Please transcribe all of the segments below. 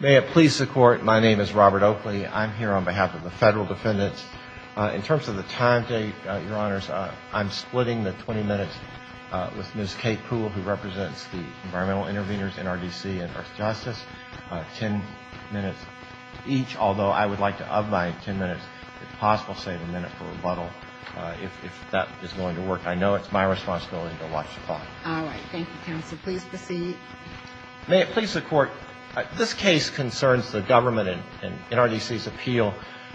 May it please the Court. My name is Robert Oakley. I'm here on behalf of the Federal Defendants. In terms of the time date, Your Honors, I'm splitting the 20 minutes with Ms. Kate Poole, who represents the Environmental Intervenors, NRDC, and Earth Justice. Ten minutes each, although I would like to up my ten minutes, if possible, save a minute for rebuttal, if that is going to work. I know it's my responsibility to watch the clock. All right. Thank you, Counsel. Please proceed. May it please the Court. This case concerns the government and NRDC's appeal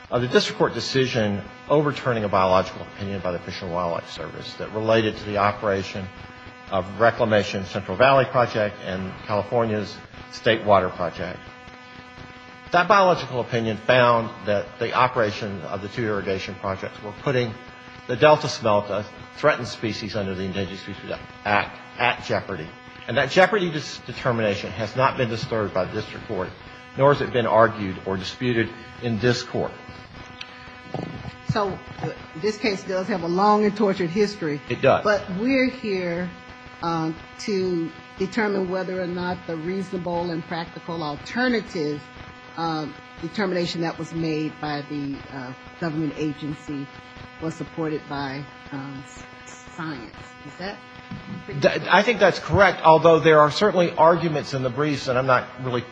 of the District Court decision overturning a biological opinion by the Fish and Wildlife Service that related to the operation of Reclamation's Central Valley Project and California's State Water Project. That biological opinion found that the operation of the two irrigation projects were putting the Delta Smelta threatened species under the Endangered Species Act at jeopardy. And that jeopardy determination has not been disturbed by the District Court, nor has it been argued or disputed in this Court. So this case does have a long and tortured history. It does. But we're here to determine whether or not the reasonable and practical alternative determination that was made by the government agency was supported by science. Is that correct? I think that's correct, although there are certainly arguments in the briefs, and I'm not really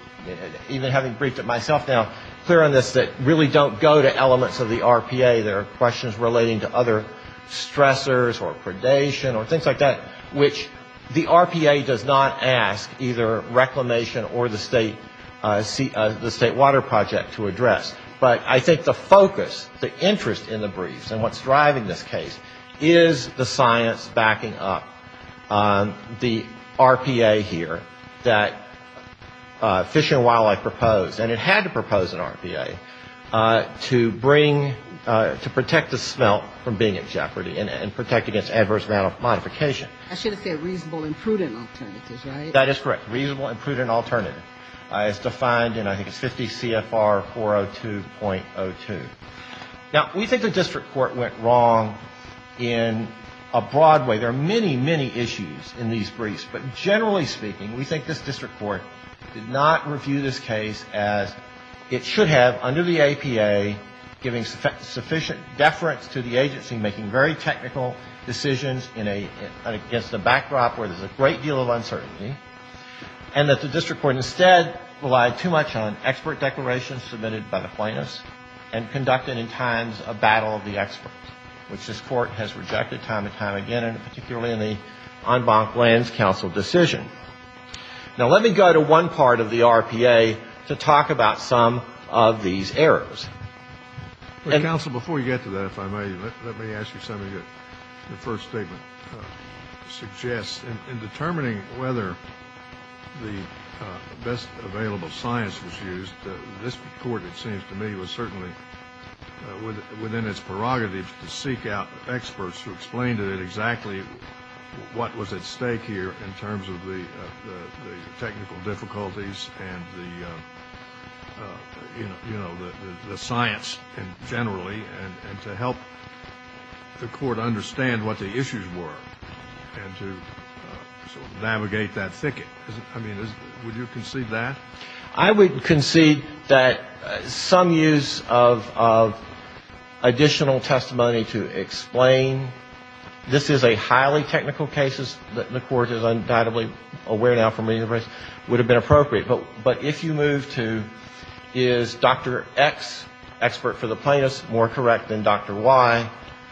even having briefed it myself now, clear on this, that really don't go to elements of the RPA. There are questions relating to other stressors or predation or things like that, which the RPA does not ask either Reclamation or the State Water Project to address. But I think the focus, the interest in the briefs and what's driving this case is the science backing up the RPA here that Fish and Wildlife proposed, and it had to propose an RPA, to bring, to protect the smelt from being at jeopardy and protect against adverse modification. I should have said reasonable and prudent alternatives, right? That is correct. Reasonable and prudent alternative. It's defined in, I think, 50 CFR 402.02. Now, we think the District Court went wrong in a broad way. There are many, many issues in these briefs. But generally speaking, we think this District Court did not review this case as it should have under the APA, giving sufficient deference to the agency, making very technical decisions in a, against a backdrop where there's a great deal of uncertainty, and that the District Court instead relied too much on expert declarations submitted by the plaintiffs and conducted in times of battle of the experts, which this Court has rejected time and time again, and particularly in the en banc lens counsel case. Now, let me go to one part of the RPA to talk about some of these errors. Counsel, before you get to that, if I may, let me ask you something that the first statement suggests. In determining whether the best available science was used, this Court, it seems to me, was certainly within its prerogatives to seek out experts who explained to it exactly what was at stake here in terms of the technical difficulties and the, you know, the science generally and to help the Court understand what the issues were and to sort of navigate that thicket. I mean, would you concede that? I would concede that some use of additional testimony to explain this is a highly technical case, as the Court is undoubtedly aware now from many of the briefs, would have been appropriate. But if you move to is Dr. X expert for the plaintiffs more correct than Dr. Y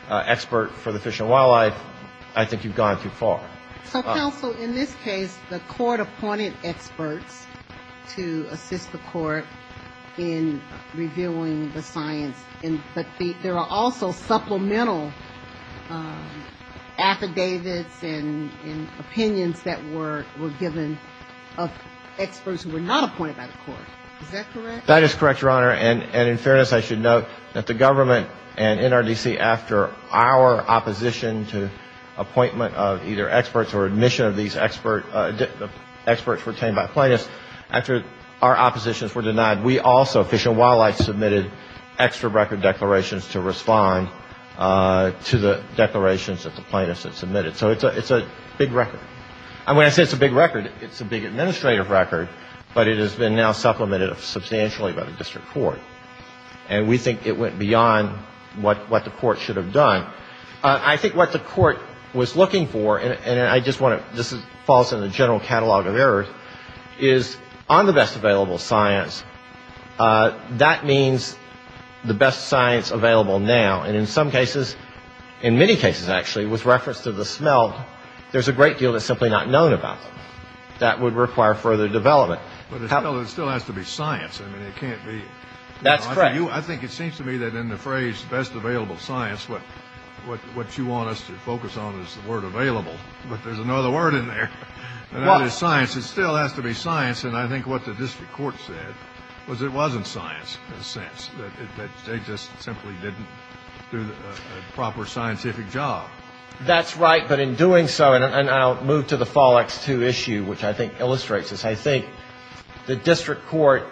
expert for the fish and wildlife, I think you've gone too far. So, counsel, in this case, the Court appointed experts to assist the Court in reviewing the science. But there are also supplemental affidavits and opinions that were given of experts who were not appointed by the Court. Is that correct? That is correct, Your Honor. And in fairness, I should note that the government and NRDC, after our opposition to appointment of either experts or admission of these experts retained by plaintiffs, after our oppositions were denied, we also, Fish and Wildlife, submitted extra record declarations to respond to the declarations that the plaintiffs had submitted. So it's a big record. And when I say it's a big record, it's a big administrative record, but it has been now supplemented substantially by the District Court. And we think it went beyond what the Court should have done. I think what the Court was looking for, and I just want to, this falls in the general catalog of errors, is on the best available science, that means the best science available now. And in some cases, in many cases actually, with reference to the smell, there's a great deal that's simply not known about that. That would require further development. But it still has to be science. I mean, it can't be. That's correct. I think it seems to me that in the phrase best available science, what you want us to focus on is the word available, but there's another word in there. What? And that is science. Yes, it still has to be science. And I think what the District Court said was it wasn't science in a sense, that they just simply didn't do a proper scientific job. That's right. But in doing so, and I'll move to the Fall X-2 issue, which I think illustrates this, I think the District Court,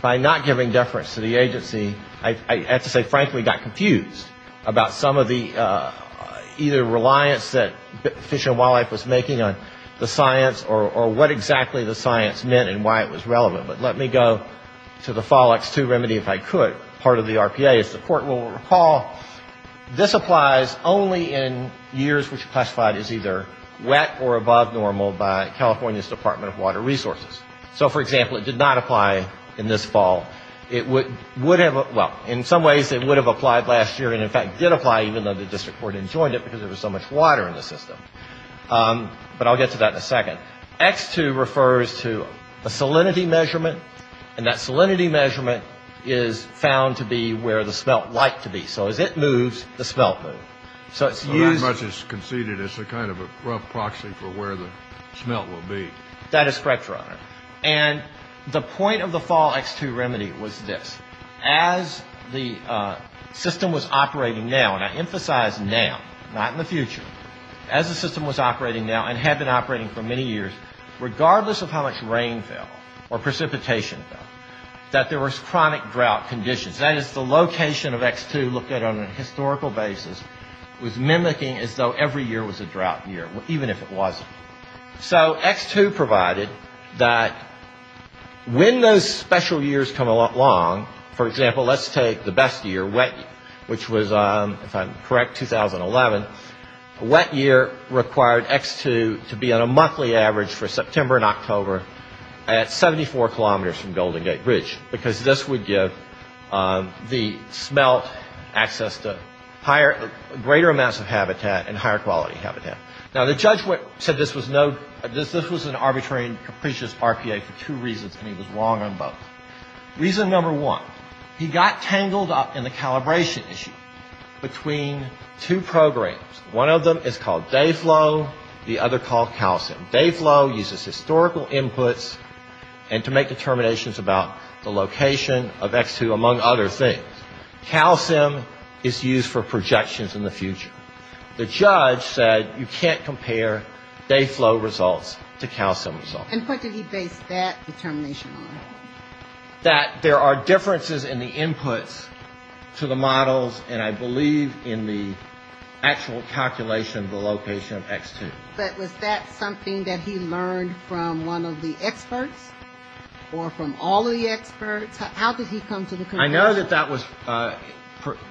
by not giving deference to the agency, I have to say, frankly, got confused about some of the either reliance that Fish and Wildlife was making on the science, or what exactly the science meant and why it was relevant. But let me go to the Fall X-2 remedy, if I could, part of the RPA. As the Court will recall, this applies only in years which classified as either wet or above normal by California's Department of Water Resources. So, for example, it did not apply in this fall. It would have, well, in some ways it would have applied last year and, in fact, did apply even though the District Court enjoined it because there was so much water in the system. But I'll get to that in a second. X-2 refers to a salinity measurement, and that salinity measurement is found to be where the smelt like to be. So as it moves, the smelt moves. So it's used... Not much is conceded. It's a kind of a rough proxy for where the smelt will be. That is correct, Your Honor. And the point of the Fall X-2 remedy was this. As the system was operating now, and I emphasize now, not in the future, as the system was operating now and had been operating for many years, regardless of how much rain fell or precipitation fell, that there was chronic drought conditions. That is the location of X-2 looked at on a historical basis was mimicking as though every year was a drought year, even if it wasn't. So X-2 provided that when those special years come along, for example, let's take the best year, wet year, which was, if I'm correct, 2011. A wet year required X-2 to be on a monthly average for September and October at 74 kilometers from Golden Gate Bridge because this would give the smelt access to greater amounts of habitat and higher quality habitat. Now, the judge said this was an arbitrary and capricious RPA for two reasons, and he was wrong on both. Reason number one, he got tangled up in the calibration issue between two programs. One of them is called Dayflow. The other called CalSIM. Dayflow uses historical inputs and to make determinations about the location of X-2, among other things. CalSIM is used for projections in the future. The judge said you can't compare Dayflow results to CalSIM results. And what did he base that determination on? That there are differences in the inputs to the models, and I believe in the actual calculation of the location of X-2. But was that something that he learned from one of the experts or from all of the experts? How did he come to the conclusion? I know that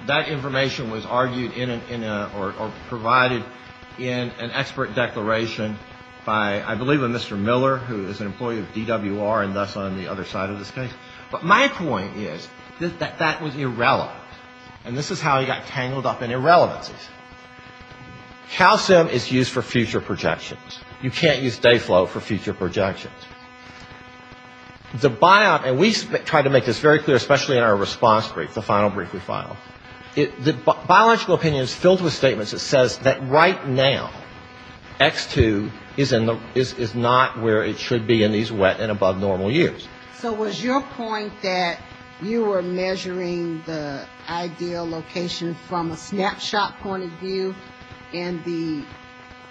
that information was argued in or provided in an expert declaration by, I believe, a Mr. Miller, who is an employee of DWR and thus on the other side of this case. But my point is that that was irrelevant, and this is how he got tangled up in irrelevancies. CalSIM is used for future projections. You can't use Dayflow for future projections. The biop, and we try to make this very clear, especially in our response brief, the final brief we filed, the biological opinion is filled with statements that says that right now, X-2 is not where it should be in these wet and above normal years. So was your point that you were measuring the ideal location from a snapshot point of view, and the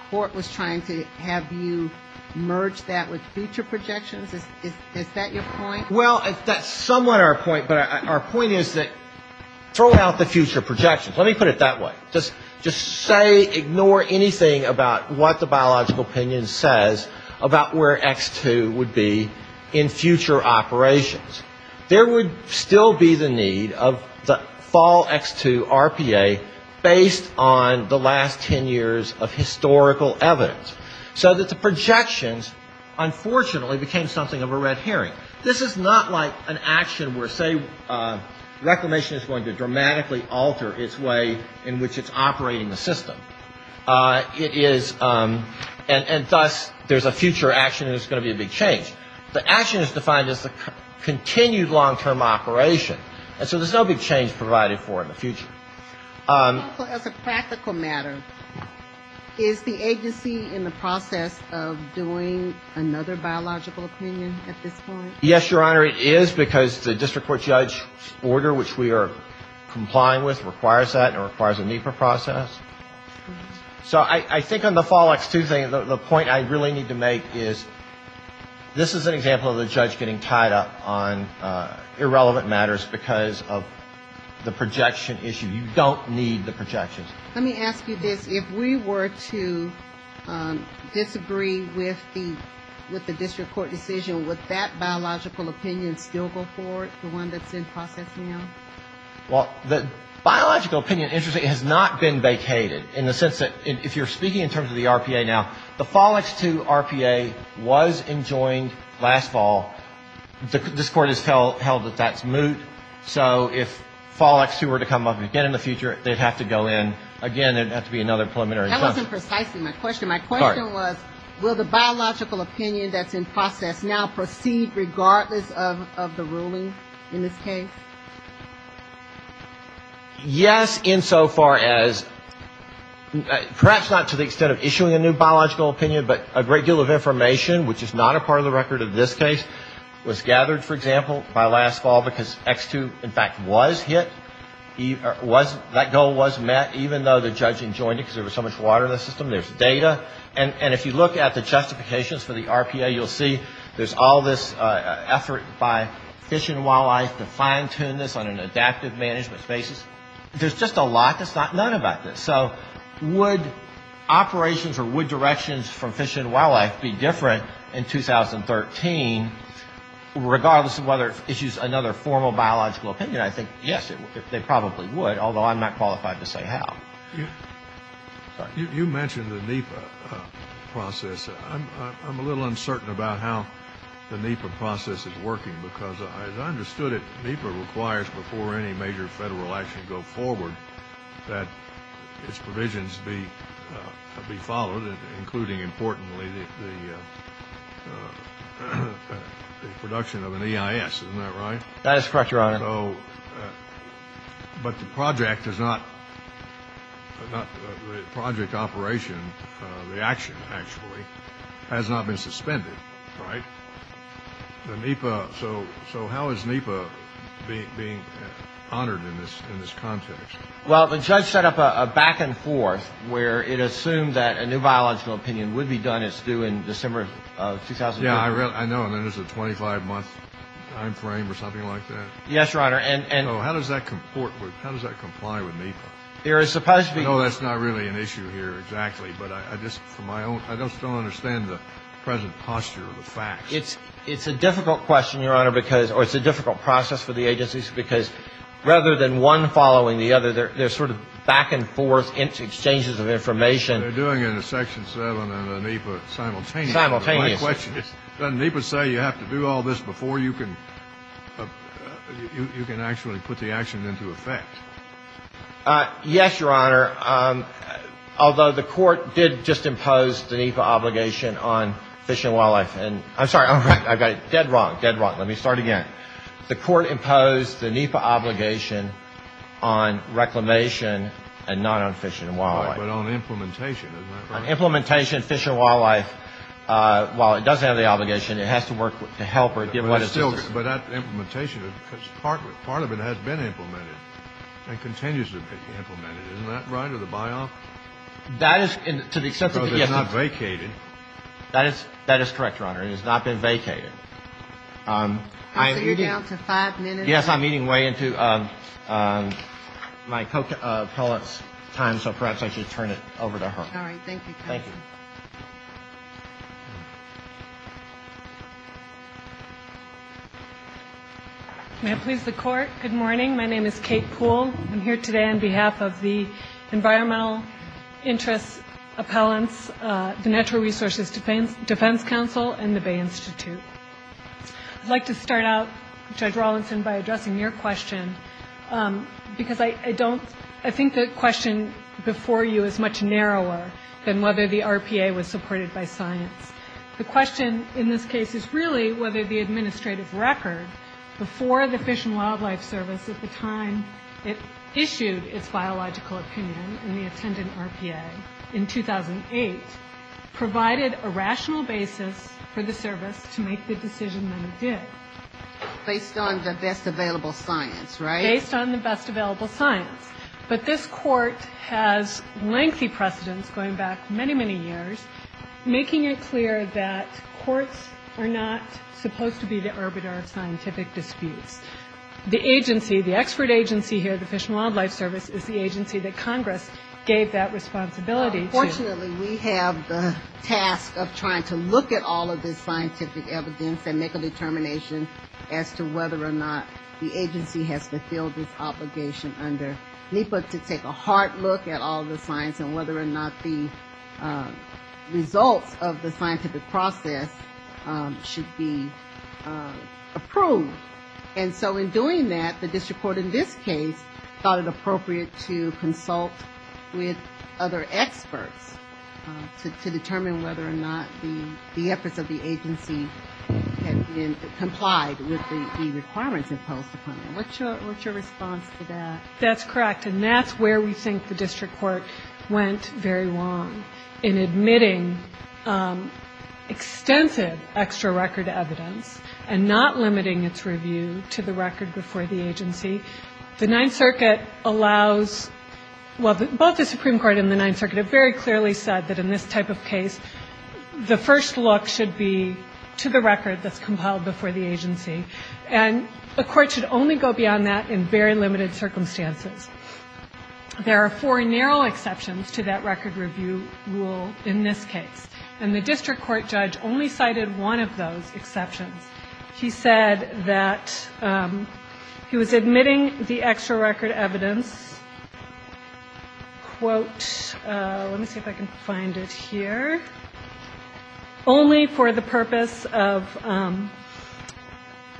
court was trying to have you merge that with future projections? Is that your point? Well, that's somewhat our point, but our point is that throw out the future projections. Let me put it that way. Just say, ignore anything about what the biological opinion says about where X-2 would be in future operations. There would still be the need of the fall X-2 RPA based on the last 10 years of historical evidence, so that the projections unfortunately became something of a red herring. This is not like an action where, say, Reclamation is going to dramatically alter its way in which it's operating the system. It is, and thus there's a future action and it's going to be a big change. The action is defined as a continued long-term operation. And so there's no big change provided for in the future. As a practical matter, is the agency in the process of doing another biological opinion at this point? Yes, Your Honor, it is, because the district court judge order which we are complying with requires that and requires a NEPA process. So I think on the fall X-2 thing, the point I really need to make is, this is an example of the judge getting tied up on irrelevant matters because of the projection issue. You don't need the projections. Let me ask you this. If we were to disagree with the district court decision, would that biological opinion still go forward, the one that's in process now? Well, the biological opinion, interestingly, has not been vacated in the sense that if you're speaking in terms of the RPA now, the fall X-2 RPA was enjoined last fall. This Court has held that that's moot. So if fall X-2 were to come up again in the future, they'd have to go in. Again, there'd have to be another preliminary process. That wasn't precisely my question. My question was, will the biological opinion that's in process now proceed regardless of the ruling in this case? Yes, insofar as, perhaps not to the extent of issuing a new biological opinion, but a great deal of information, which is not a part of the record of this case, was gathered, for example, by last fall because X-2, in fact, was hit. That goal was met even though the judge enjoined it because there was so much water in the system. There's data. And if you look at the justifications for the RPA, you'll see there's all this effort by Fish and Wildlife to fine-tune this on an adaptive management basis. There's just a lot that's not known about this. So would operations or would directions from Fish and Wildlife be different in 2013, regardless of whether it issues another formal biological opinion? I think, yes, they probably would, although I'm not qualified to say how. You mentioned the NEPA process. I'm a little uncertain about how the NEPA process is working because, as I understood it, NEPA requires before any major federal action goes forward that its provisions be followed, including, importantly, the production of an EIS. Isn't that right? That is correct, Your Honor. But the project is not a project operation. The action, actually, has not been suspended, right? So how is NEPA being honored in this context? Well, the judge set up a back-and-forth where it assumed that a new biological opinion would be done. It's due in December of 2015. Yeah, I know. And then there's a 25-month time frame or something like that. Yes, Your Honor. How does that comply with NEPA? There is supposed to be. I know that's not really an issue here exactly, but I just don't understand the present posture of the facts. It's a difficult question, Your Honor, or it's a difficult process for the agencies, because rather than one following the other, there's sort of back-and-forth exchanges of information. Simultaneously. Doesn't NEPA say you have to do all this before you can actually put the action into effect? Yes, Your Honor, although the court did just impose the NEPA obligation on fish and wildlife, and I'm sorry, I'm dead wrong, dead wrong. Let me start again. The court imposed the NEPA obligation on reclamation and not on fish and wildlife. But on implementation, is that right? On implementation, fish and wildlife, while it does have the obligation, it has to work to help or give what assistance. But that implementation, because part of it has been implemented and continues to be implemented. Isn't that right, or the buy-off? That is, to the extent that it is. So it's not vacated. That is correct, Your Honor. It has not been vacated. You're down to five minutes. Yes, I'm eating way into my co-appellate's time, so perhaps I should turn it over to her. All right, thank you. Thank you. May it please the Court, good morning. My name is Kate Poole. I'm here today on behalf of the Environmental Interest Appellants, the Natural Resources Defense Council, and the Bay Institute. I'd like to start out, Judge Rawlinson, by addressing your question, because I don't, I think the question before you is much narrower than whether the RPA was supported by science. The question in this case is really whether the administrative record, before the Fish and Wildlife Service at the time it issued its biological opinion in the attendant RPA in 2008, provided a rational basis for the service to make the decision that it did. Based on the best available science, right? Based on the best available science. But this Court has lengthy precedents going back many, many years, making it clear that courts are not supposed to be the arbiter of scientific disputes. The agency, the expert agency here, the Fish and Wildlife Service, is the agency that Congress gave that responsibility to. Unfortunately, we have the task of trying to look at all of this scientific evidence and make a determination as to whether or not the agency has fulfilled its obligation under NEPA to take a hard look at all the science and whether or not the results of the scientific process should be approved. And so in doing that, the district court in this case thought it appropriate to consult with other experts to determine whether or not the efforts of the agency had been complied with the requirements imposed upon them. What's your response to that? That's correct, and that's where we think the district court went very wrong, in admitting extensive extra record evidence and not limiting its review to the record before the agency. The Ninth Circuit allows, well, both the Supreme Court and the Ninth Circuit have very clearly said that in this type of case, the first look should be to the record that's compiled before the agency, and a court should only go beyond that in very limited circumstances. There are four narrow exceptions to that record review rule in this case, and the district court judge only cited one of those exceptions. He said that he was admitting the extra record evidence, quote, let me see if I can find it here, only for the purpose of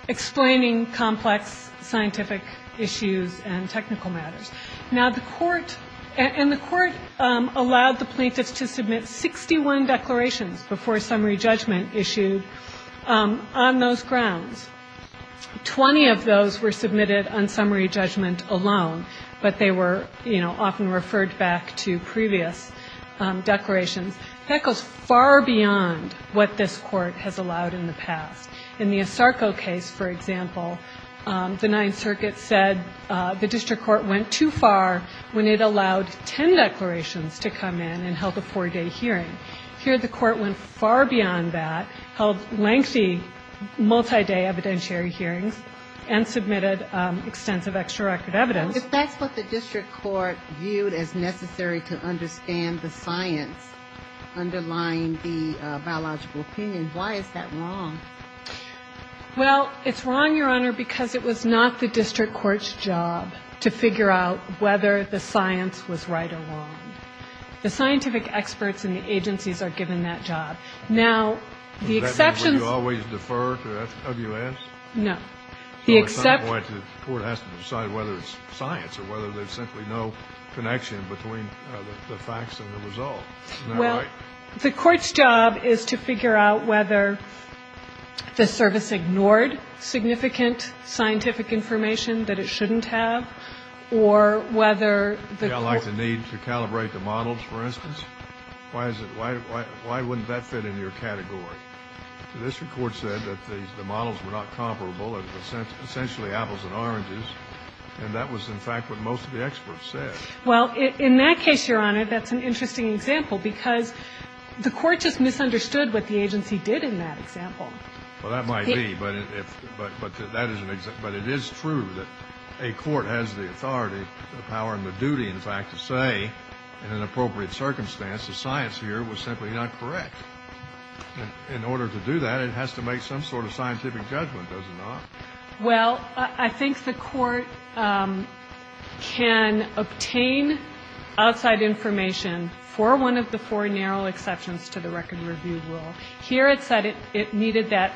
explaining complex scientific issues and technical matters. Now, the court, and the court allowed the plaintiffs to submit 61 declarations before summary judgment issued on those grounds. Twenty of those were submitted on summary judgment alone, but they were, you know, often referred back to previous declarations. That goes far beyond what this court has allowed in the past. In the Asarco case, for example, the Ninth Circuit said the district court went too far when it allowed 10 declarations to come in and held a four-day hearing. Here the court went far beyond that, held lengthy multi-day evidentiary hearings, and submitted extensive extra record evidence. If that's what the district court viewed as necessary to understand the science underlying the biological opinion, why is that wrong? Well, it's wrong, Your Honor, because it was not the district court's job to figure out whether the science was right or wrong. The scientific experts in the agencies are given that job. Now, the exceptions. Does that mean we always defer to W.S.? No. The court has to decide whether it's science or whether there's simply no connection between the facts and the result. Isn't that right? Well, the court's job is to figure out whether the service ignored significant scientific information that it shouldn't have or whether the court needs to calibrate the models, for instance. Why wouldn't that fit in your category? The district court said that the models were not comparable, essentially apples and oranges, and that was, in fact, what most of the experts said. Well, in that case, Your Honor, that's an interesting example, because the court just misunderstood what the agency did in that example. Well, that might be, but that is an example. But it is true that a court has the authority, the power, and the duty, in fact, to say in an appropriate circumstance the science here was simply not correct. In order to do that, it has to make some sort of scientific judgment, does it not? Well, I think the court can obtain outside information for one of the four narrow exceptions to the record review rule. Here it said it needed that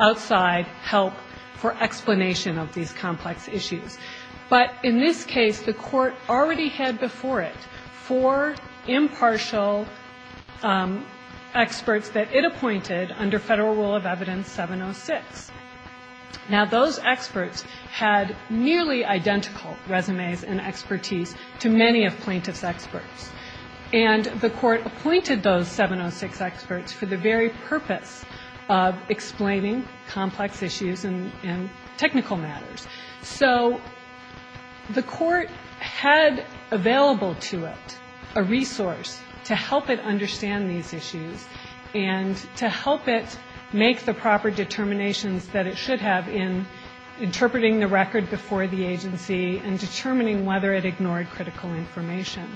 outside help for explanation of these complex issues. But in this case, the court already had before it four impartial experts that it appointed under Federal Rule of Evidence 706. Now, those experts had nearly identical resumes and expertise to many of plaintiff's experts. And the court appointed those 706 experts for the very purpose of explaining complex issues and technical matters. So the court had available to it a resource to help it understand these issues and to help it make the proper determinations that it should have in interpreting the record before the agency and determining whether it ignored critical information.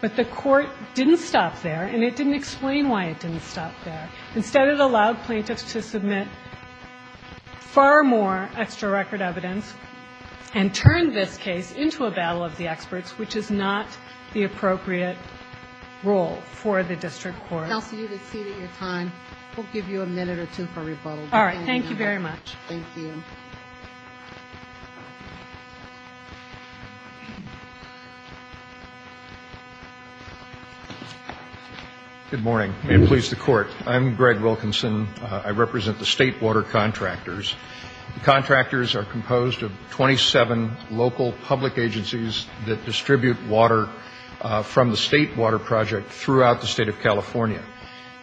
But the court didn't stop there, and it didn't explain why it didn't stop there. Instead, it allowed plaintiffs to submit far more extra record evidence and turn this case into a battle of the experts, which is not the appropriate role for the district court. Counsel, you've exceeded your time. We'll give you a minute or two for rebuttal. All right. Thank you very much. Thank you. Mr. Wilkinson. Good morning. May it please the Court, I'm Greg Wilkinson. I represent the State Water Contractors. The contractors are composed of 27 local public agencies that distribute water from the State Water Project throughout the State of California.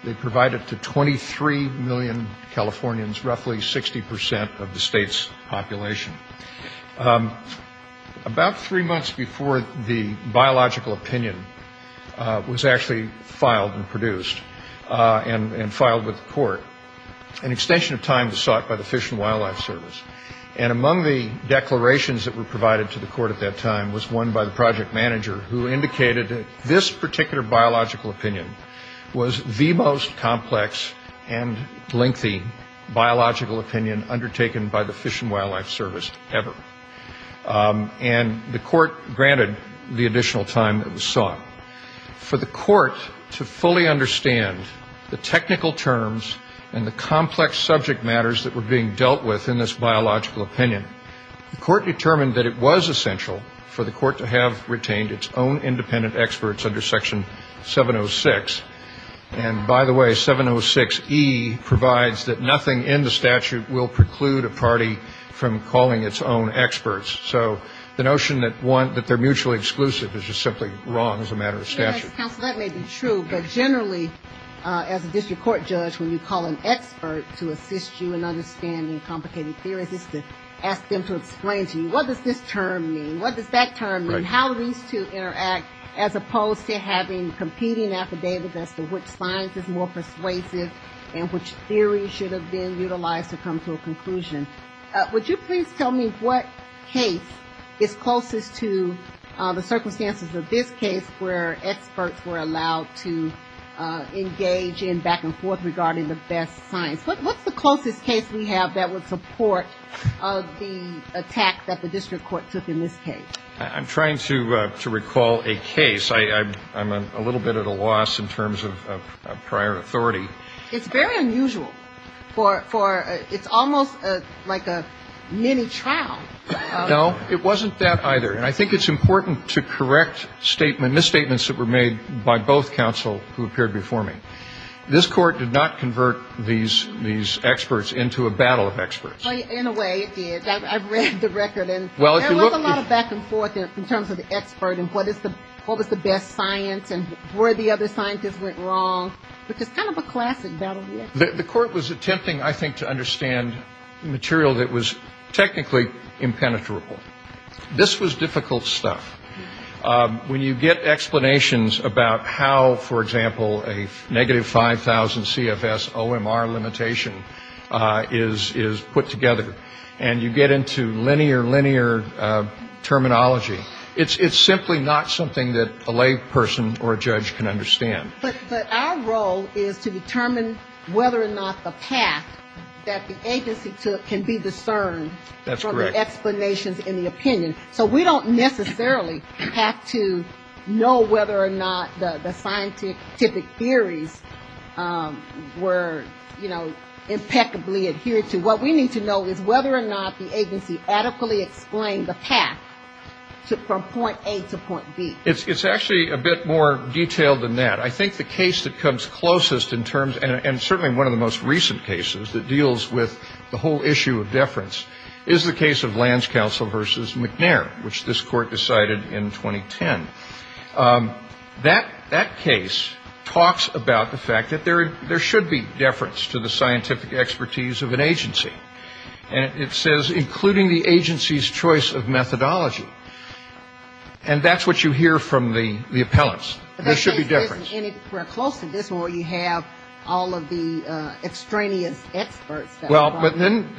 They provide it to 23 million Californians, roughly 60% of the State's population. About three months before the biological opinion was actually filed and produced and filed with the court, an extension of time was sought by the Fish and Wildlife Service. And among the declarations that were provided to the court at that time was one by the project manager who indicated that this particular biological opinion was the most complex and lengthy biological opinion undertaken by the Fish and Wildlife Service ever. And the court granted the additional time that was sought. For the court to fully understand the technical terms and the complex subject matters that were being dealt with in this biological opinion, the court determined that it was essential for the court to have retained its own independent experts under Section 706. And by the way, 706E provides that nothing in the statute will preclude a party from calling its own experts. So the notion that they're mutually exclusive is just simply wrong as a matter of statute. Yes, counsel, that may be true. But generally, as a district court judge, when you call an expert to assist you in understanding complicated theories, it's to ask them to explain to you what does this term mean, what does that term mean, how these two interact as opposed to having competing affidavits as to which science is more persuasive and which theory should have been utilized to come to a conclusion. Would you please tell me what case is closest to the circumstances of this case where experts were allowed to engage in back and forth regarding the best science? What's the closest case we have that would support the attack that the district court took in this case? I'm trying to recall a case. I'm a little bit at a loss in terms of prior authority. It's very unusual for it's almost like a mini trial. No, it wasn't that either. And I think it's important to correct statements, misstatements that were made by both counsel who appeared before me. This court did not convert these experts into a battle of experts. In a way, it did. I've read the record. And there was a lot of back and forth in terms of the expert and what was the best science and where the other scientists went wrong, which is kind of a classic battle. The court was attempting, I think, to understand material that was technically impenetrable. This was difficult stuff. When you get explanations about how, for example, a negative 5,000 CFS OMR limitation is put together, and you get into linear, linear terminology, it's simply not something that a lay person or a judge can understand. But our role is to determine whether or not the path that the agency took can be discerned. That's correct. From the explanations in the opinion. So we don't necessarily have to know whether or not the scientific theories were, you know, impeccably adhered to. What we need to know is whether or not the agency adequately explained the path from point A to point B. It's actually a bit more detailed than that. I think the case that comes closest in terms, and certainly one of the most recent cases, that deals with the whole issue of deference is the case of Lands Council v. McNair, which this court decided in 2010. That case talks about the fact that there should be deference to the scientific expertise of an agency. And it says, including the agency's choice of methodology. And that's what you hear from the appellants. There should be deference. We're close to this where you have all of the extraneous experts. Well, but then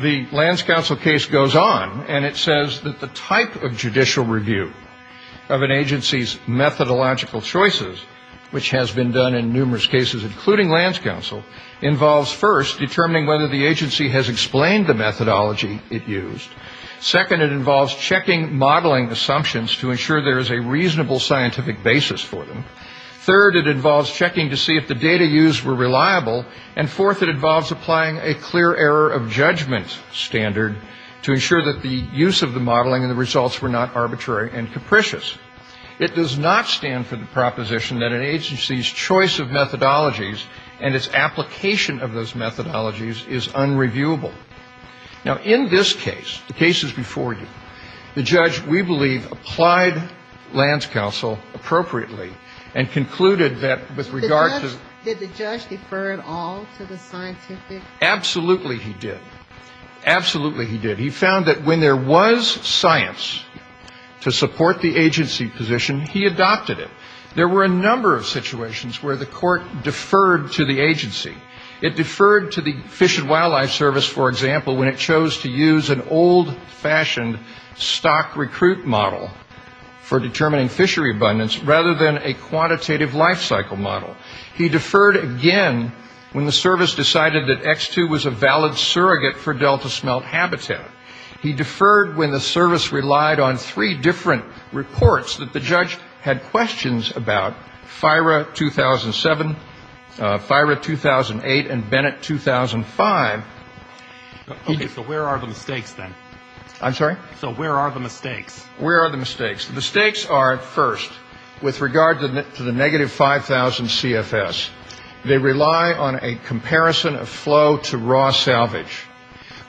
the Lands Council case goes on, and it says that the type of judicial review of an agency's methodological choices, which has been done in numerous cases, including Lands Council, involves first determining whether the agency has explained the methodology it used. Second, it involves checking modeling assumptions to ensure there is a reasonable scientific basis for them. Third, it involves checking to see if the data used were reliable. And fourth, it involves applying a clear error of judgment standard to ensure that the use of the modeling and the results were not arbitrary and capricious. It does not stand for the proposition that an agency's choice of methodologies and its application of those methodologies is unreviewable. Now, in this case, the cases before you, the judge, we believe, applied Lands Council appropriately and concluded that with regard to the ---- Did the judge defer at all to the scientific ---- Absolutely he did. Absolutely he did. He found that when there was science to support the agency position, he adopted it. There were a number of situations where the court deferred to the agency. It deferred to the Fish and Wildlife Service, for example, when it chose to use an old-fashioned stock recruit model for determining fishery abundance rather than a quantitative life cycle model. He deferred again when the service decided that X2 was a valid surrogate for delta smelt habitat. He deferred when the service relied on three different reports that the judge had questions about, FIRA 2007, FIRA 2008, and Bennett 2005. Okay, so where are the mistakes then? I'm sorry? So where are the mistakes? Where are the mistakes? The mistakes are, first, with regard to the negative 5,000 CFS. They rely on a comparison of flow to raw salvage.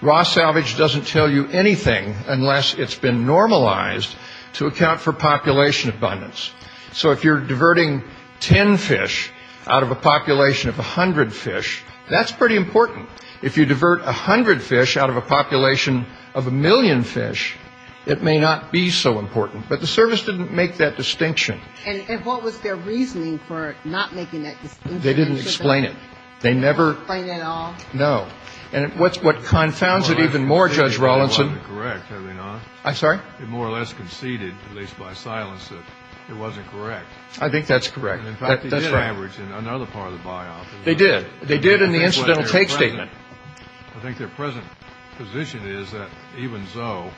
Raw salvage doesn't tell you anything unless it's been normalized to account for population abundance. So if you're diverting ten fish out of a population of a hundred fish, that's pretty important. If you divert a hundred fish out of a population of a million fish, it may not be so important. But the service didn't make that distinction. And what was their reasoning for not making that distinction? They didn't explain it. They never. They didn't explain it at all? No. And what confounds it even more, Judge Rawlinson. Correct, have we not? I'm sorry? They more or less conceded, at least by silence, that it wasn't correct. I think that's correct. In fact, they did average in another part of the biop. They did. They did in the incidental take statement. I think their present position is that even so,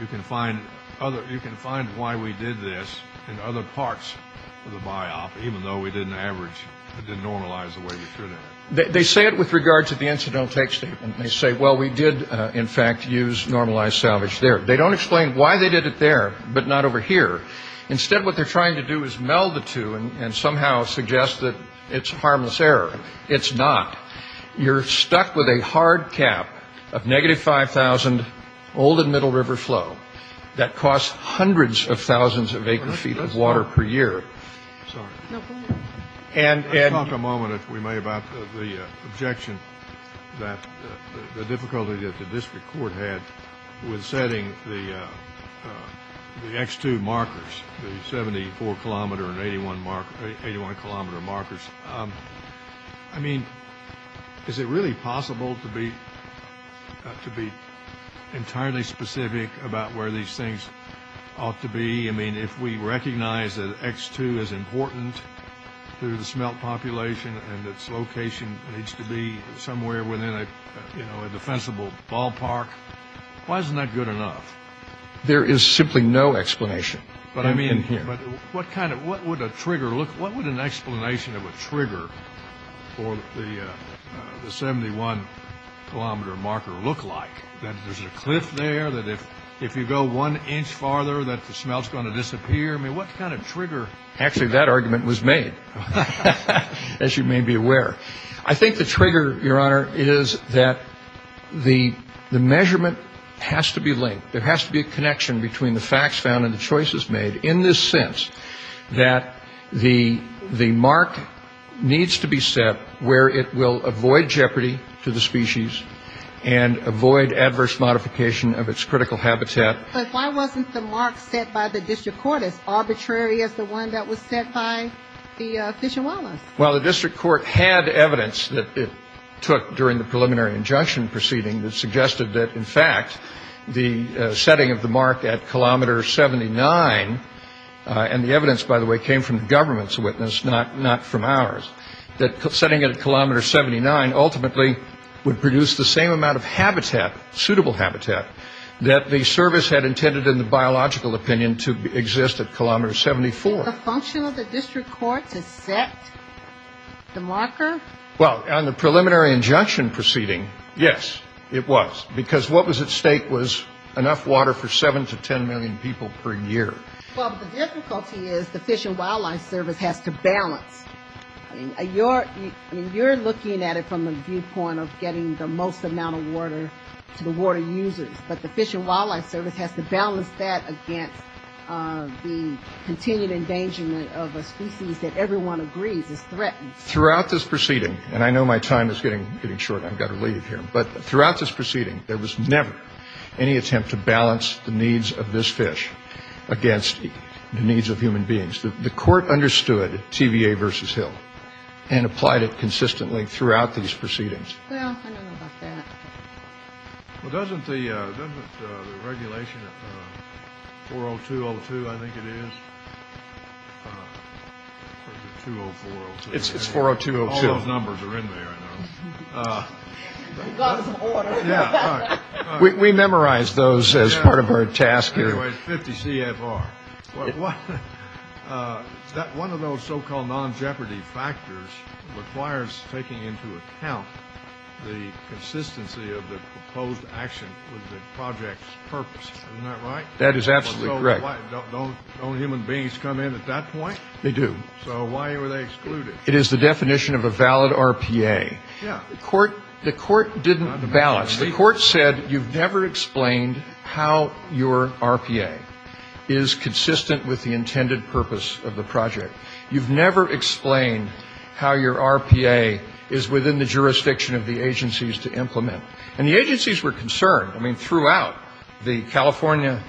you can find why we did this in other parts of the biop, even though we didn't average, didn't normalize the way we should have. They say it with regard to the incidental take statement. They say, well, we did, in fact, use normalized salvage there. They don't explain why they did it there, but not over here. Instead, what they're trying to do is meld the two and somehow suggest that it's harmless error. It's not. You're stuck with a hard cap of negative 5,000 old and middle river flow that costs hundreds of thousands of acre feet of water per year. I'm sorry. No problem. Let's talk a moment, if we may, about the objection that the difficulty that the district court had with setting the X2 markers, the 74-kilometer and 81-kilometer markers. I mean, is it really possible to be entirely specific about where these things ought to be? I mean, if we recognize that X2 is important to the smelt population and its location needs to be somewhere within a defensible ballpark, why isn't that good enough? There is simply no explanation. But I mean, what kind of, what would a trigger look, what would an explanation of a trigger for the 71-kilometer marker look like? That there's a cliff there, that if you go one inch farther that the smelt's going to disappear? I mean, what kind of trigger? Actually, that argument was made, as you may be aware. I think the trigger, Your Honor, is that the measurement has to be linked. There has to be a connection between the facts found and the choices made in this sense that the mark needs to be set where it will avoid jeopardy to the species and avoid adverse modification of its critical habitat. But why wasn't the mark set by the district court as arbitrary as the one that was set by the Fish and Wildlife? Well, the district court had evidence that it took during the preliminary injunction proceeding that suggested that, in fact, the setting of the mark at kilometer 79, and the evidence, by the way, came from the government's witness, not from ours, that setting it at kilometer 79 ultimately would produce the same amount of habitat, suitable habitat, that the service had intended, in the biological opinion, to exist at kilometer 74. Was the function of the district court to set the marker? Well, on the preliminary injunction proceeding, yes, it was, because what was at stake was enough water for 7 to 10 million people per year. Well, the difficulty is the Fish and Wildlife Service has to balance. I mean, you're looking at it from the viewpoint of getting the most amount of water to the water users, but the Fish and Wildlife Service has to balance that against the continued endangerment of a species that everyone agrees is threatened. Throughout this proceeding, and I know my time is getting short, I've got to leave here, but throughout this proceeding, there was never any attempt to balance the needs of this fish against the needs of human beings. The court understood TVA versus Hill and applied it consistently throughout these proceedings. Well, I don't know about that. Well, doesn't the regulation, 40202, I think it is, or is it 20402? It's 40202. All those numbers are in there. We memorized those as part of our task here. 50 CFR. One of those so-called non-jeopardy factors requires taking into account the consistency of the proposed action with the project's purpose. Isn't that right? That is absolutely correct. Don't human beings come in at that point? They do. So why were they excluded? It is the definition of a valid RPA. The court didn't balance. The court said you've never explained how your RPA is consistent with the intended purpose of the project. You've never explained how your RPA is within the jurisdiction of the agencies to implement. And the agencies were concerned. I mean, throughout, the California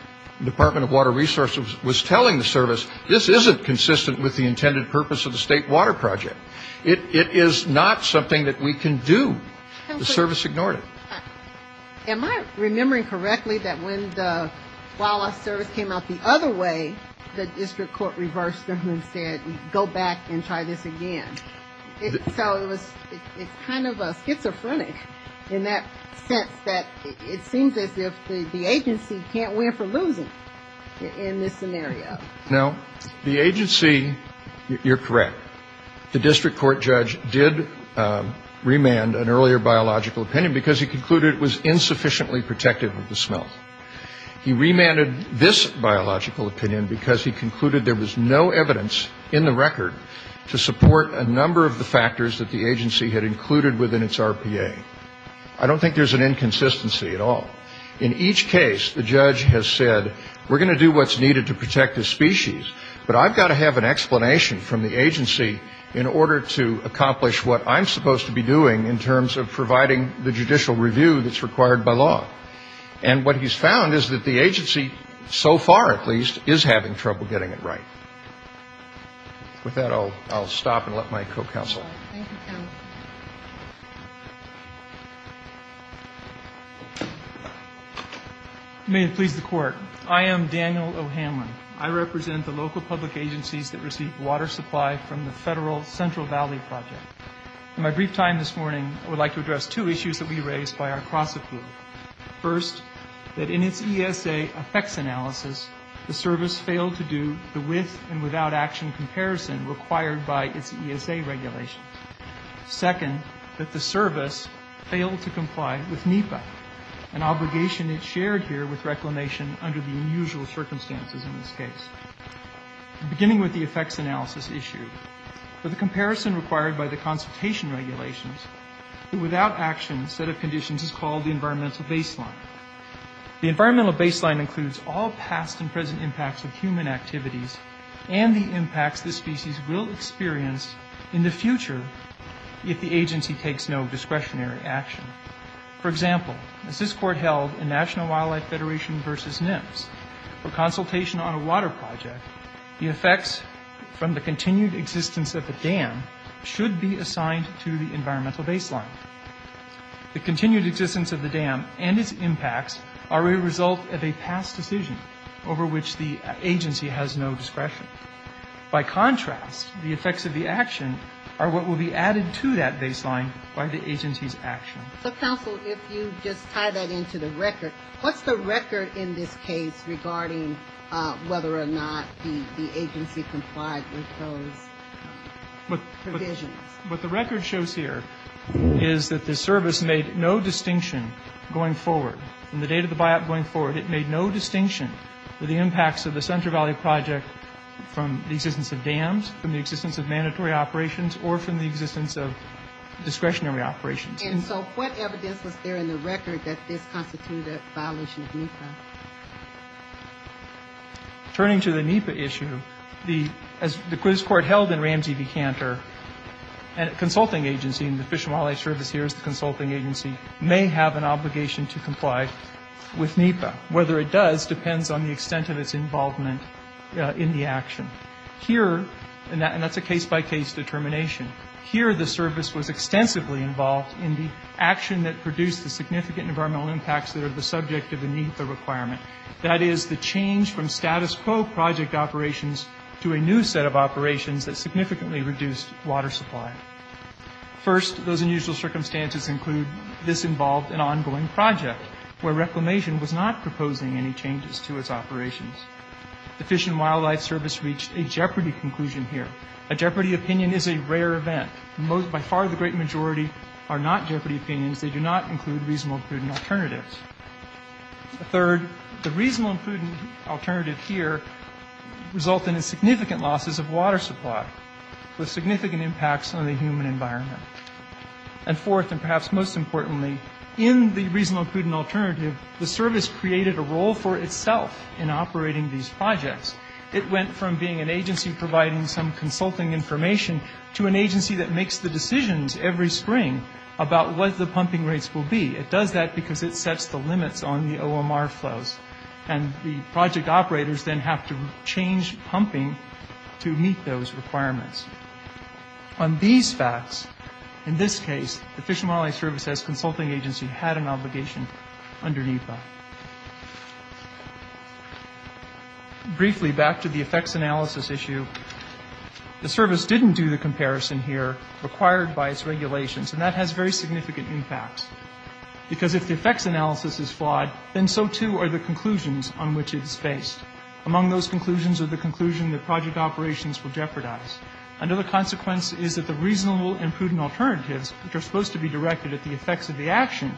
Department of Water Resources was telling the service, this isn't consistent with the intended purpose of the state water project. It is not something that we can do. The service ignored it. Am I remembering correctly that when the wildlife service came out the other way, the district court reversed and said go back and try this again? So it's kind of schizophrenic in that sense that it seems as if the agency can't win for losing in this scenario. No. The agency, you're correct, the district court judge did remand an earlier biological opinion because he concluded it was insufficiently protective of the smell. He remanded this biological opinion because he concluded there was no evidence in the record to support a number of the factors that the agency had included within its RPA. I don't think there's an inconsistency at all. In each case, the judge has said we're going to do what's needed to protect the species, but I've got to have an explanation from the agency in order to accomplish what I'm supposed to be doing in terms of providing the judicial review that's required by law. And what he's found is that the agency, so far at least, is having trouble getting it right. With that, I'll stop and let my co-counsel. Thank you, counsel. May it please the Court. I am Daniel O'Hanlon. I represent the local public agencies that receive water supply from the Federal Central Valley Project. In my brief time this morning, I would like to address two issues that we raised by our cross-approval. First, that in its ESA effects analysis, the service failed to do the with and without action comparison required by its ESA regulations. Second, that the service failed to comply with NEPA, an obligation that's shared here with Reclamation under the unusual circumstances in this case. Beginning with the effects analysis issue, for the comparison required by the consultation regulations, the without action set of conditions is called the environmental baseline. The environmental baseline includes all past and present impacts of human activities and the impacts the species will experience in the future if the agency takes no discretionary action. For example, as this Court held in National Wildlife Federation v. NIMS, for consultation on a water project, the effects from the continued existence of the dam should be assigned to the environmental baseline. The continued existence of the dam and its impacts are a result of a past decision over which the agency has no discretion. By contrast, the effects of the action are what will be added to that baseline by the agency's action. So, counsel, if you just tie that into the record, what's the record in this case regarding whether or not the agency complied with those provisions? What the record shows here is that the service made no distinction going forward. From the date of the buyout going forward, it made no distinction with the impacts of the Center Valley Project from the existence of dams, from the existence of mandatory operations, or from the existence of discretionary operations. And so what evidence was there in the record that this constituted a violation of NEPA? Turning to the NEPA issue, as the quiz court held in Ramsey v. Cantor, a consulting agency, and the Fish and Wildlife Service here is the consulting agency, may have an obligation to comply with NEPA. Whether it does depends on the extent of its involvement in the action. Here, and that's a case-by-case determination, here the service was extensively involved in the action that produced the significant environmental impacts that are the subject of the NEPA requirement. That is, the change from status quo project operations to a new set of operations that significantly reduced water supply. First, those unusual circumstances include this involved an ongoing project where Reclamation was not proposing any changes to its operations. The Fish and Wildlife Service reached a jeopardy conclusion here. A jeopardy opinion is a rare event. By far the great majority are not jeopardy opinions. They do not include reasonable and prudent alternatives. Third, the reasonable and prudent alternative here resulted in significant losses of water supply with significant impacts on the human environment. And fourth, and perhaps most importantly, in the reasonable and prudent alternative, the service created a role for itself in operating these projects. It went from being an agency providing some consulting information to an agency that makes the decisions every spring about what the pumping rates will be. It does that because it sets the limits on the OMR flows, and the project operators then have to change pumping to meet those requirements. On these facts, in this case, the Fish and Wildlife Service as a consulting agency had an obligation underneath that. Briefly, back to the effects analysis issue. The service didn't do the comparison here required by its regulations, and that has very significant impacts because if the effects analysis is flawed, then so too are the conclusions on which it is based. Among those conclusions are the conclusion that project operations were jeopardized. Another consequence is that the reasonable and prudent alternatives, which are supposed to be directed at the effects of the action,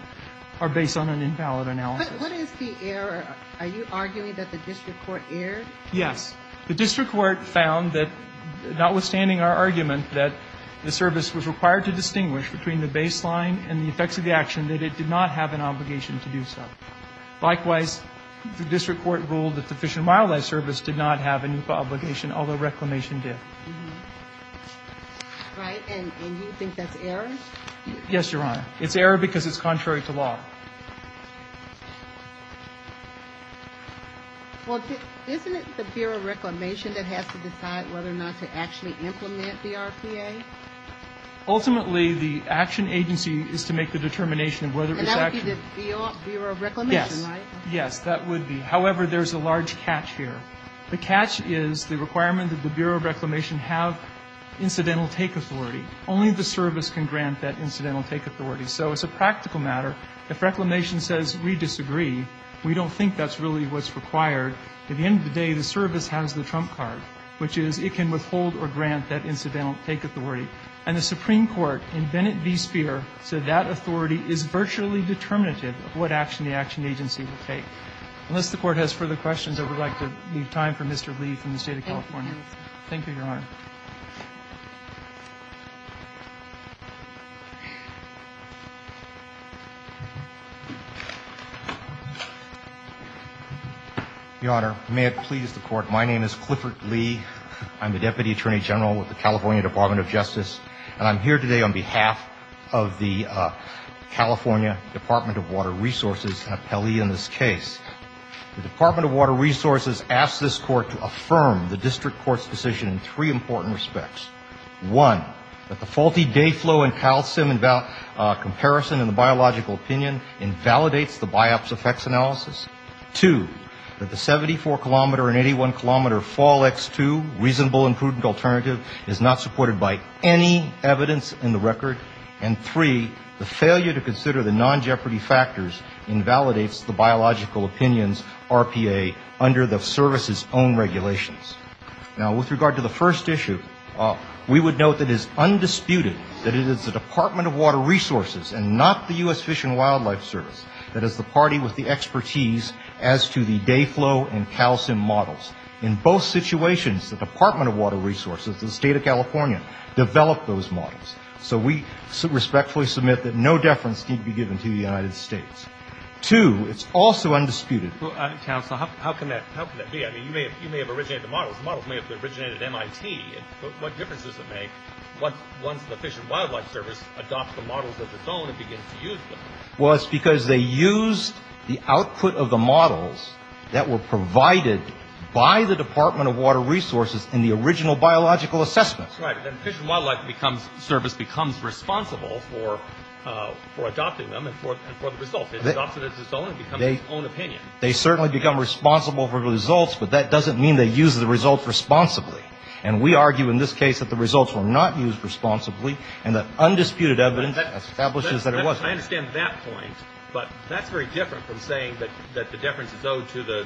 are based on an invalid analysis. What is the error? Are you arguing that the district court erred? Yes. The district court found that, notwithstanding our argument that the service was required to distinguish between the baseline and the effects of the action, that it did not have an obligation to do so. Likewise, the district court ruled that the Fish and Wildlife Service did not have an OPA obligation, although Reclamation did. Right. And you think that's error? Yes, Your Honor. It's error because it's contrary to law. Well, isn't it the Bureau of Reclamation that has to decide whether or not to actually implement the RPA? Ultimately, the action agency is to make the determination of whether it's actually... And that would be the Bureau of Reclamation, right? Yes. Yes, that would be. However, there's a large catch here. The catch is the requirement that the Bureau of Reclamation have incidental take authority. Only the service can grant that incidental take authority. So it's a practical matter. If Reclamation says we disagree, we don't think that's really what's required. At the end of the day, the service has the trump card, which is it can withhold or grant that incidental take authority. And the Supreme Court in Bennett v. Speer said that authority is virtually determinative of what action the action agency will take. Unless the Court has further questions, I would like to leave time for Mr. Lee from the State of California. Thank you, Your Honor. Thank you. Your Honor, may it please the Court, my name is Clifford Lee. I'm the Deputy Attorney General with the California Department of Justice. And I'm here today on behalf of the California Department of Water Resources, an appellee in this case. The Department of Water Resources asks this Court to affirm the district court's decision in three important respects. One, that the faulty day flow and calcium comparison in the biological opinion invalidates the biopsy effects analysis. Two, that the 74-kilometer and 81-kilometer fall X2 reasonable and prudent alternative is not supported by any evidence in the record. And three, the failure to consider the non-jeopardy factors invalidates the biological opinions RPA under the service's own regulations. Now, with regard to the first issue, we would note that it is undisputed that it is the Department of Water Resources and not the U.S. Fish and Wildlife Service that is the party with the expertise as to the day flow and calcium models. In both situations, the Department of Water Resources, the State of California, developed those models. So we respectfully submit that no deference can be given to the United States. Two, it's also undisputed. Counsel, how can that be? I mean, you may have originated the models. The models may have originated at MIT. What difference does it make once the Fish and Wildlife Service adopts the models of its own and begins to use them? Well, it's because they used the output of the models that were provided by the Department of Water Resources in the original biological assessment. That's right. Then the Fish and Wildlife Service becomes responsible for adopting them and for the results. It adopts it as its own and becomes its own opinion. They certainly become responsible for the results, but that doesn't mean they use the results responsibly. And we argue in this case that the results were not used responsibly and that undisputed evidence establishes that it was. I understand that point, but that's very different from saying that the deference is owed to the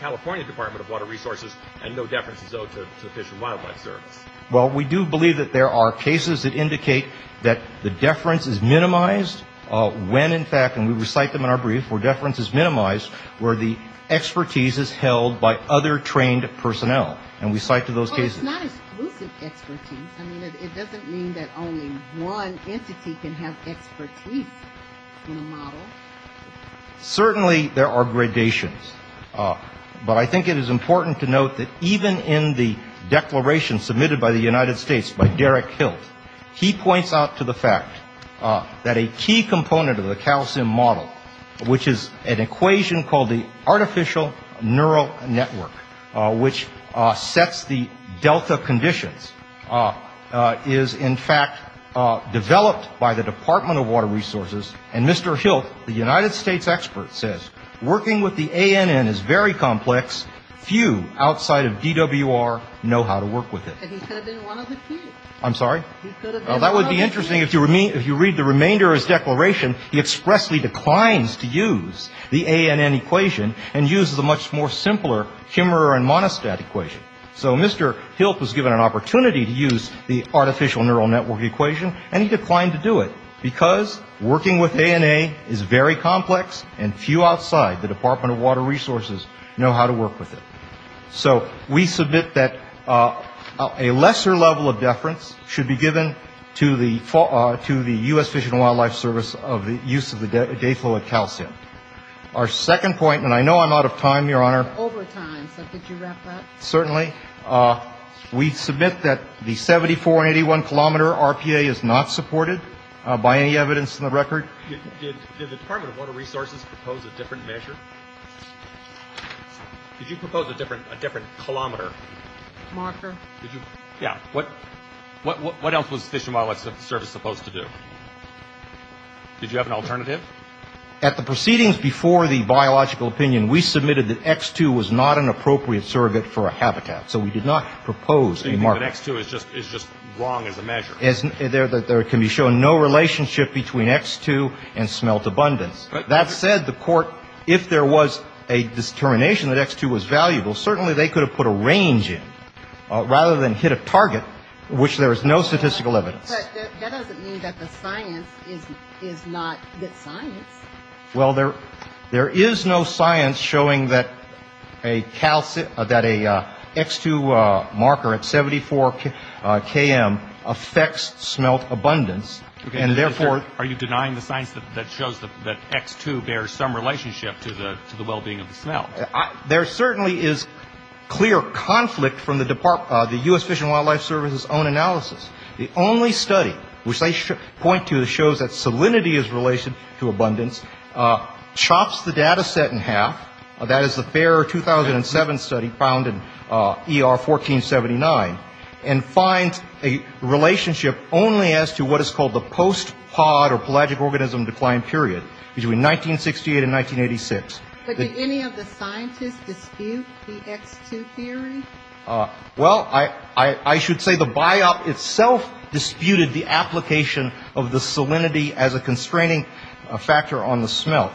California Department of Water Resources and no deference is owed to the Fish and Wildlife Service. Well, we do believe that there are cases that indicate that the deference is minimized when, in fact, and we recite them in our brief, where deference is minimized, where the expertise is held by other trained personnel. And we cite to those cases. But it's not exclusive expertise. I mean, it doesn't mean that only one entity can have expertise in a model. Certainly there are gradations. But I think it is important to note that even in the declaration submitted by the United States by Derek Hilt, he points out to the fact that a key component of the CALSIM model, which is an equation called the artificial neural network, which sets the delta conditions, is, in fact, developed by the Department of Water Resources. And Mr. Hilt, the United States expert, says working with the ANN is very complex. Few outside of DWR know how to work with it. But he could have been one of the few. I'm sorry? He could have been one of the few. That would be interesting if you read the remainder of his declaration. He expressly declines to use the ANN equation and uses a much more simpler Kimmerer and Monistat equation. So Mr. Hilt was given an opportunity to use the artificial neural network equation and he declined to do it because working with ANN is very complex and few outside the Department of Water Resources know how to work with it. So we submit that a lesser level of deference should be given to the U.S. Fish and Wildlife Service of the use of the day fluid CALSIM. Our second point, and I know I'm out of time, Your Honor. Over time, so could you wrap that? Certainly. We submit that the 7481 kilometer RPA is not supported by any evidence in the record. Did the Department of Water Resources propose a different measure? Did you propose a different kilometer? Marker. Yeah. What else was Fish and Wildlife Service supposed to do? Did you have an alternative? At the proceedings before the biological opinion, we submitted that X2 was not an appropriate surrogate for a habitat. So we did not propose a marker. So you think that X2 is just wrong as a measure? There can be shown no relationship between X2 and smelt abundance. That said, the Court, if there was a determination that X2 was valuable, certainly they could have put a range in rather than hit a target, which there is no statistical evidence. But that doesn't mean that the science is not good science. Well, there is no science showing that a X2 marker at 74 KM affects smelt abundance. Okay. Are you denying the science that shows that X2 bears some relationship to the well-being of the smelt? There certainly is clear conflict from the U.S. Fish and Wildlife Service's own analysis. The only study which they point to shows that salinity is related to abundance, chops the data set in half, that is the FAIR 2007 study found in ER 1479, and finds a relationship only as to what is called the post-pod or pelagic organism decline period between 1968 and 1986. Could any of the scientists dispute the X2 theory? Well, I should say the biop itself disputed the application of the salinity as a constraining factor on the smelt.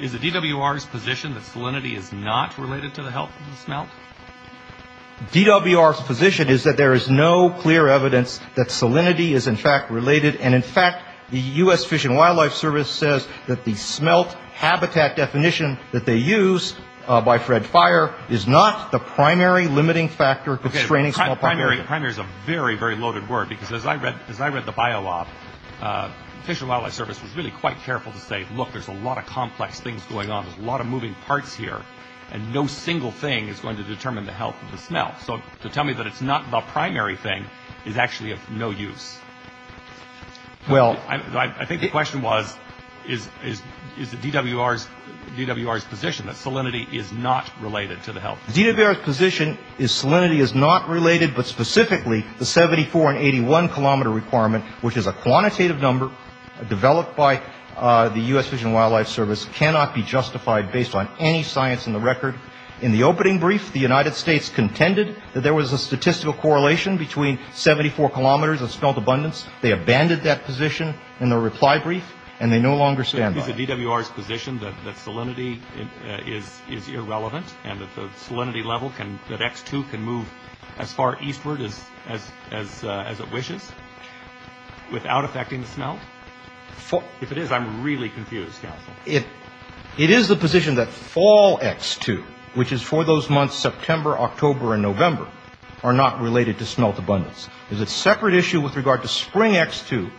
Is the DWR's position that salinity is not related to the health of the smelt? DWR's position is that there is no clear evidence that salinity is in fact related, and in fact the U.S. Fish and Wildlife Service says that the smelt habitat definition that they use by Fred Fire is not the primary limiting factor constraining smelt population. Primary is a very, very loaded word, because as I read the biop, Fish and Wildlife Service was really quite careful to say, look, there's a lot of complex things going on, there's a lot of moving parts here, and no single thing is going to determine the health of the smelt. So to tell me that it's not the primary thing is actually of no use. I think the question was, is the DWR's position that salinity is not related to the health? DWR's position is salinity is not related, but specifically the 74 and 81 kilometer requirement, which is a quantitative number developed by the U.S. Fish and Wildlife Service, cannot be justified based on any science in the record. In the opening brief, the United States contended that there was a statistical correlation between 74 kilometers of smelt abundance. They abandoned that position in the reply brief, and they no longer stand by it. Is the DWR's position that salinity is irrelevant and that the salinity level, that X2 can move as far eastward as it wishes without affecting the smelt? If it is, I'm really confused, counsel. It is the position that fall X2, which is for those months September, October, and November, are not related to smelt abundance. There's a separate issue with regard to spring X2,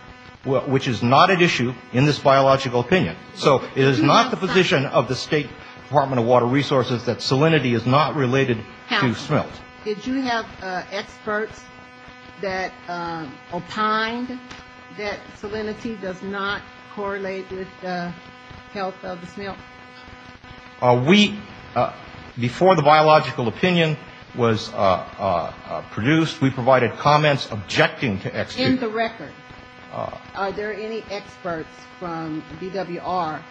which is not at issue in this biological opinion. So it is not the position of the State Department of Water Resources that salinity is not related to smelt. Counsel, did you have experts that opined that salinity does not correlate with the health of the smelt? We, before the biological opinion was produced, we provided comments objecting to X2. In the record, are there any experts from DWR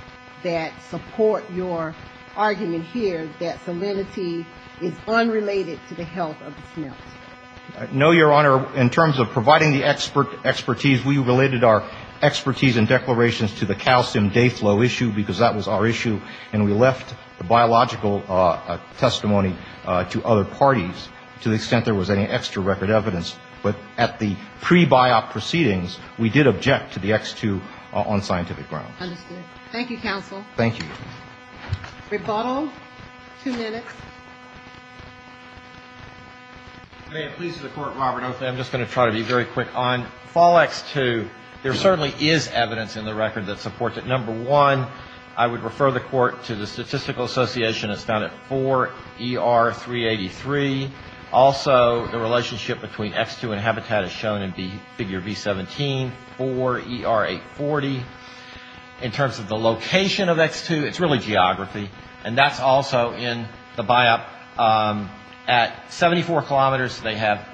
that support your argument here that salinity is unrelated to the health of the smelt? No, Your Honor. In terms of providing the expertise, we related our expertise and declarations to the calcium day flow issue, because that was our issue, and we left the biological testimony to other parties to the extent there was any extra record evidence. But at the pre-BIOP proceedings, we did object to the X2 on scientific grounds. Understood. Thank you, counsel. Thank you. Rebuttal. Two minutes. May it please the Court, Robert, I'm just going to try to be very quick on fall X2. There certainly is evidence in the record that supports it. Number one, I would refer the Court to the Statistical Association. It's found at 4ER383. Also, the relationship between X2 and habitat is shown in Figure V17, 4ER840. In terms of the location of X2, it's really geography, and that's also in the BIOP. At 74 kilometers, they have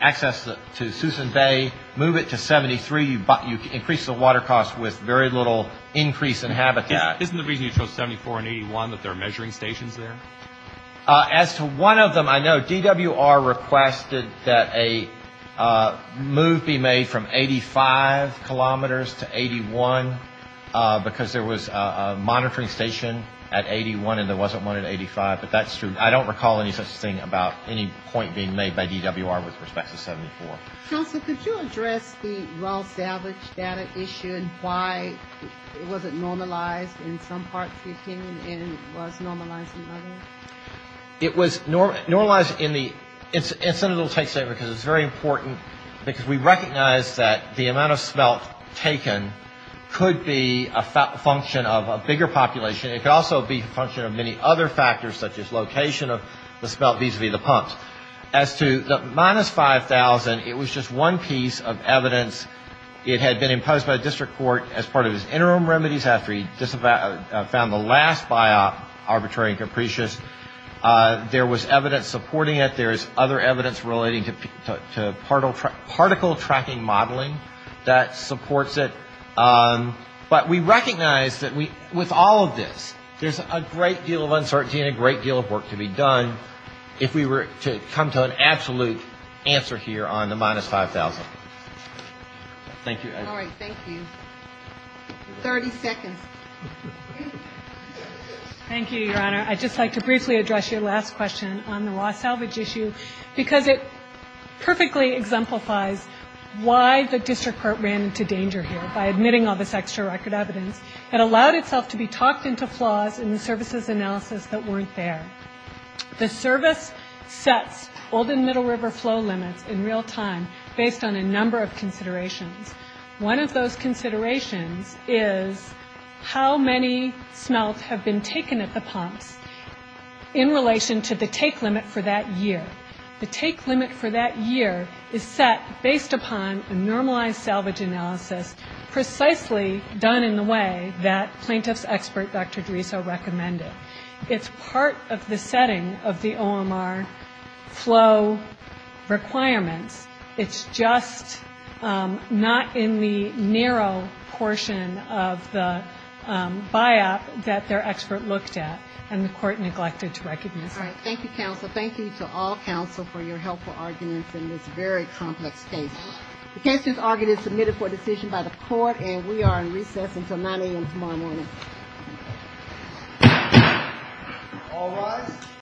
access to Susan Bay. Move it to 73, you increase the water cost with very little increase in habitat. Isn't the reason you chose 74 and 81 that there are measuring stations there? As to one of them, I know DWR requested that a move be made from 85 kilometers to 81, because there was a monitoring station at 81 and there wasn't one at 85. But that's true. I don't recall any such thing about any point being made by DWR with respect to 74. Counsel, could you address the well salvaged data issued? Why was it normalized in some parts, 15, and was normalized in others? It was normalized in the incidental take state, because it's very important, because we recognize that the amount of smelt taken could be a function of a bigger population. It could also be a function of many other factors, such as location of the smelt vis-a-vis the pumps. As to the minus 5,000, it was just one piece of evidence. It had been imposed by the district court as part of his interim remedies after he found the last BIOP arbitrary and capricious. There was evidence supporting it. There's other evidence relating to particle tracking modeling that supports it. But we recognize that with all of this, there's a great deal of uncertainty and a great deal of work to be done if we were to come to an absolute answer here on the minus 5,000. Thank you. All right. 30 seconds. Thank you, Your Honor. I'd just like to briefly address your last question on the raw salvage issue, because it perfectly exemplifies why the district court ran into danger here by admitting all this extra record evidence. It allowed itself to be talked into flaws in the services analysis that weren't there. The service sets Old and Middle River flow limits in real time based on a number of considerations. One of those considerations is how many smelts have been taken at the pumps in relation to the take limit for that year. The take limit for that year is set based upon a normalized salvage analysis precisely done in the way that plaintiff's expert, Dr. Drieso, recommended. It's part of the setting of the OMR flow requirements. It's just not in the narrow portion of the buyout that their expert looked at and the court neglected to recognize that. Thank you, counsel. Thank you to all counsel for your helpful arguments in this very complex case. The case is argued and submitted for decision by the court, and we are in recess until 9 a.m. tomorrow morning. All rise.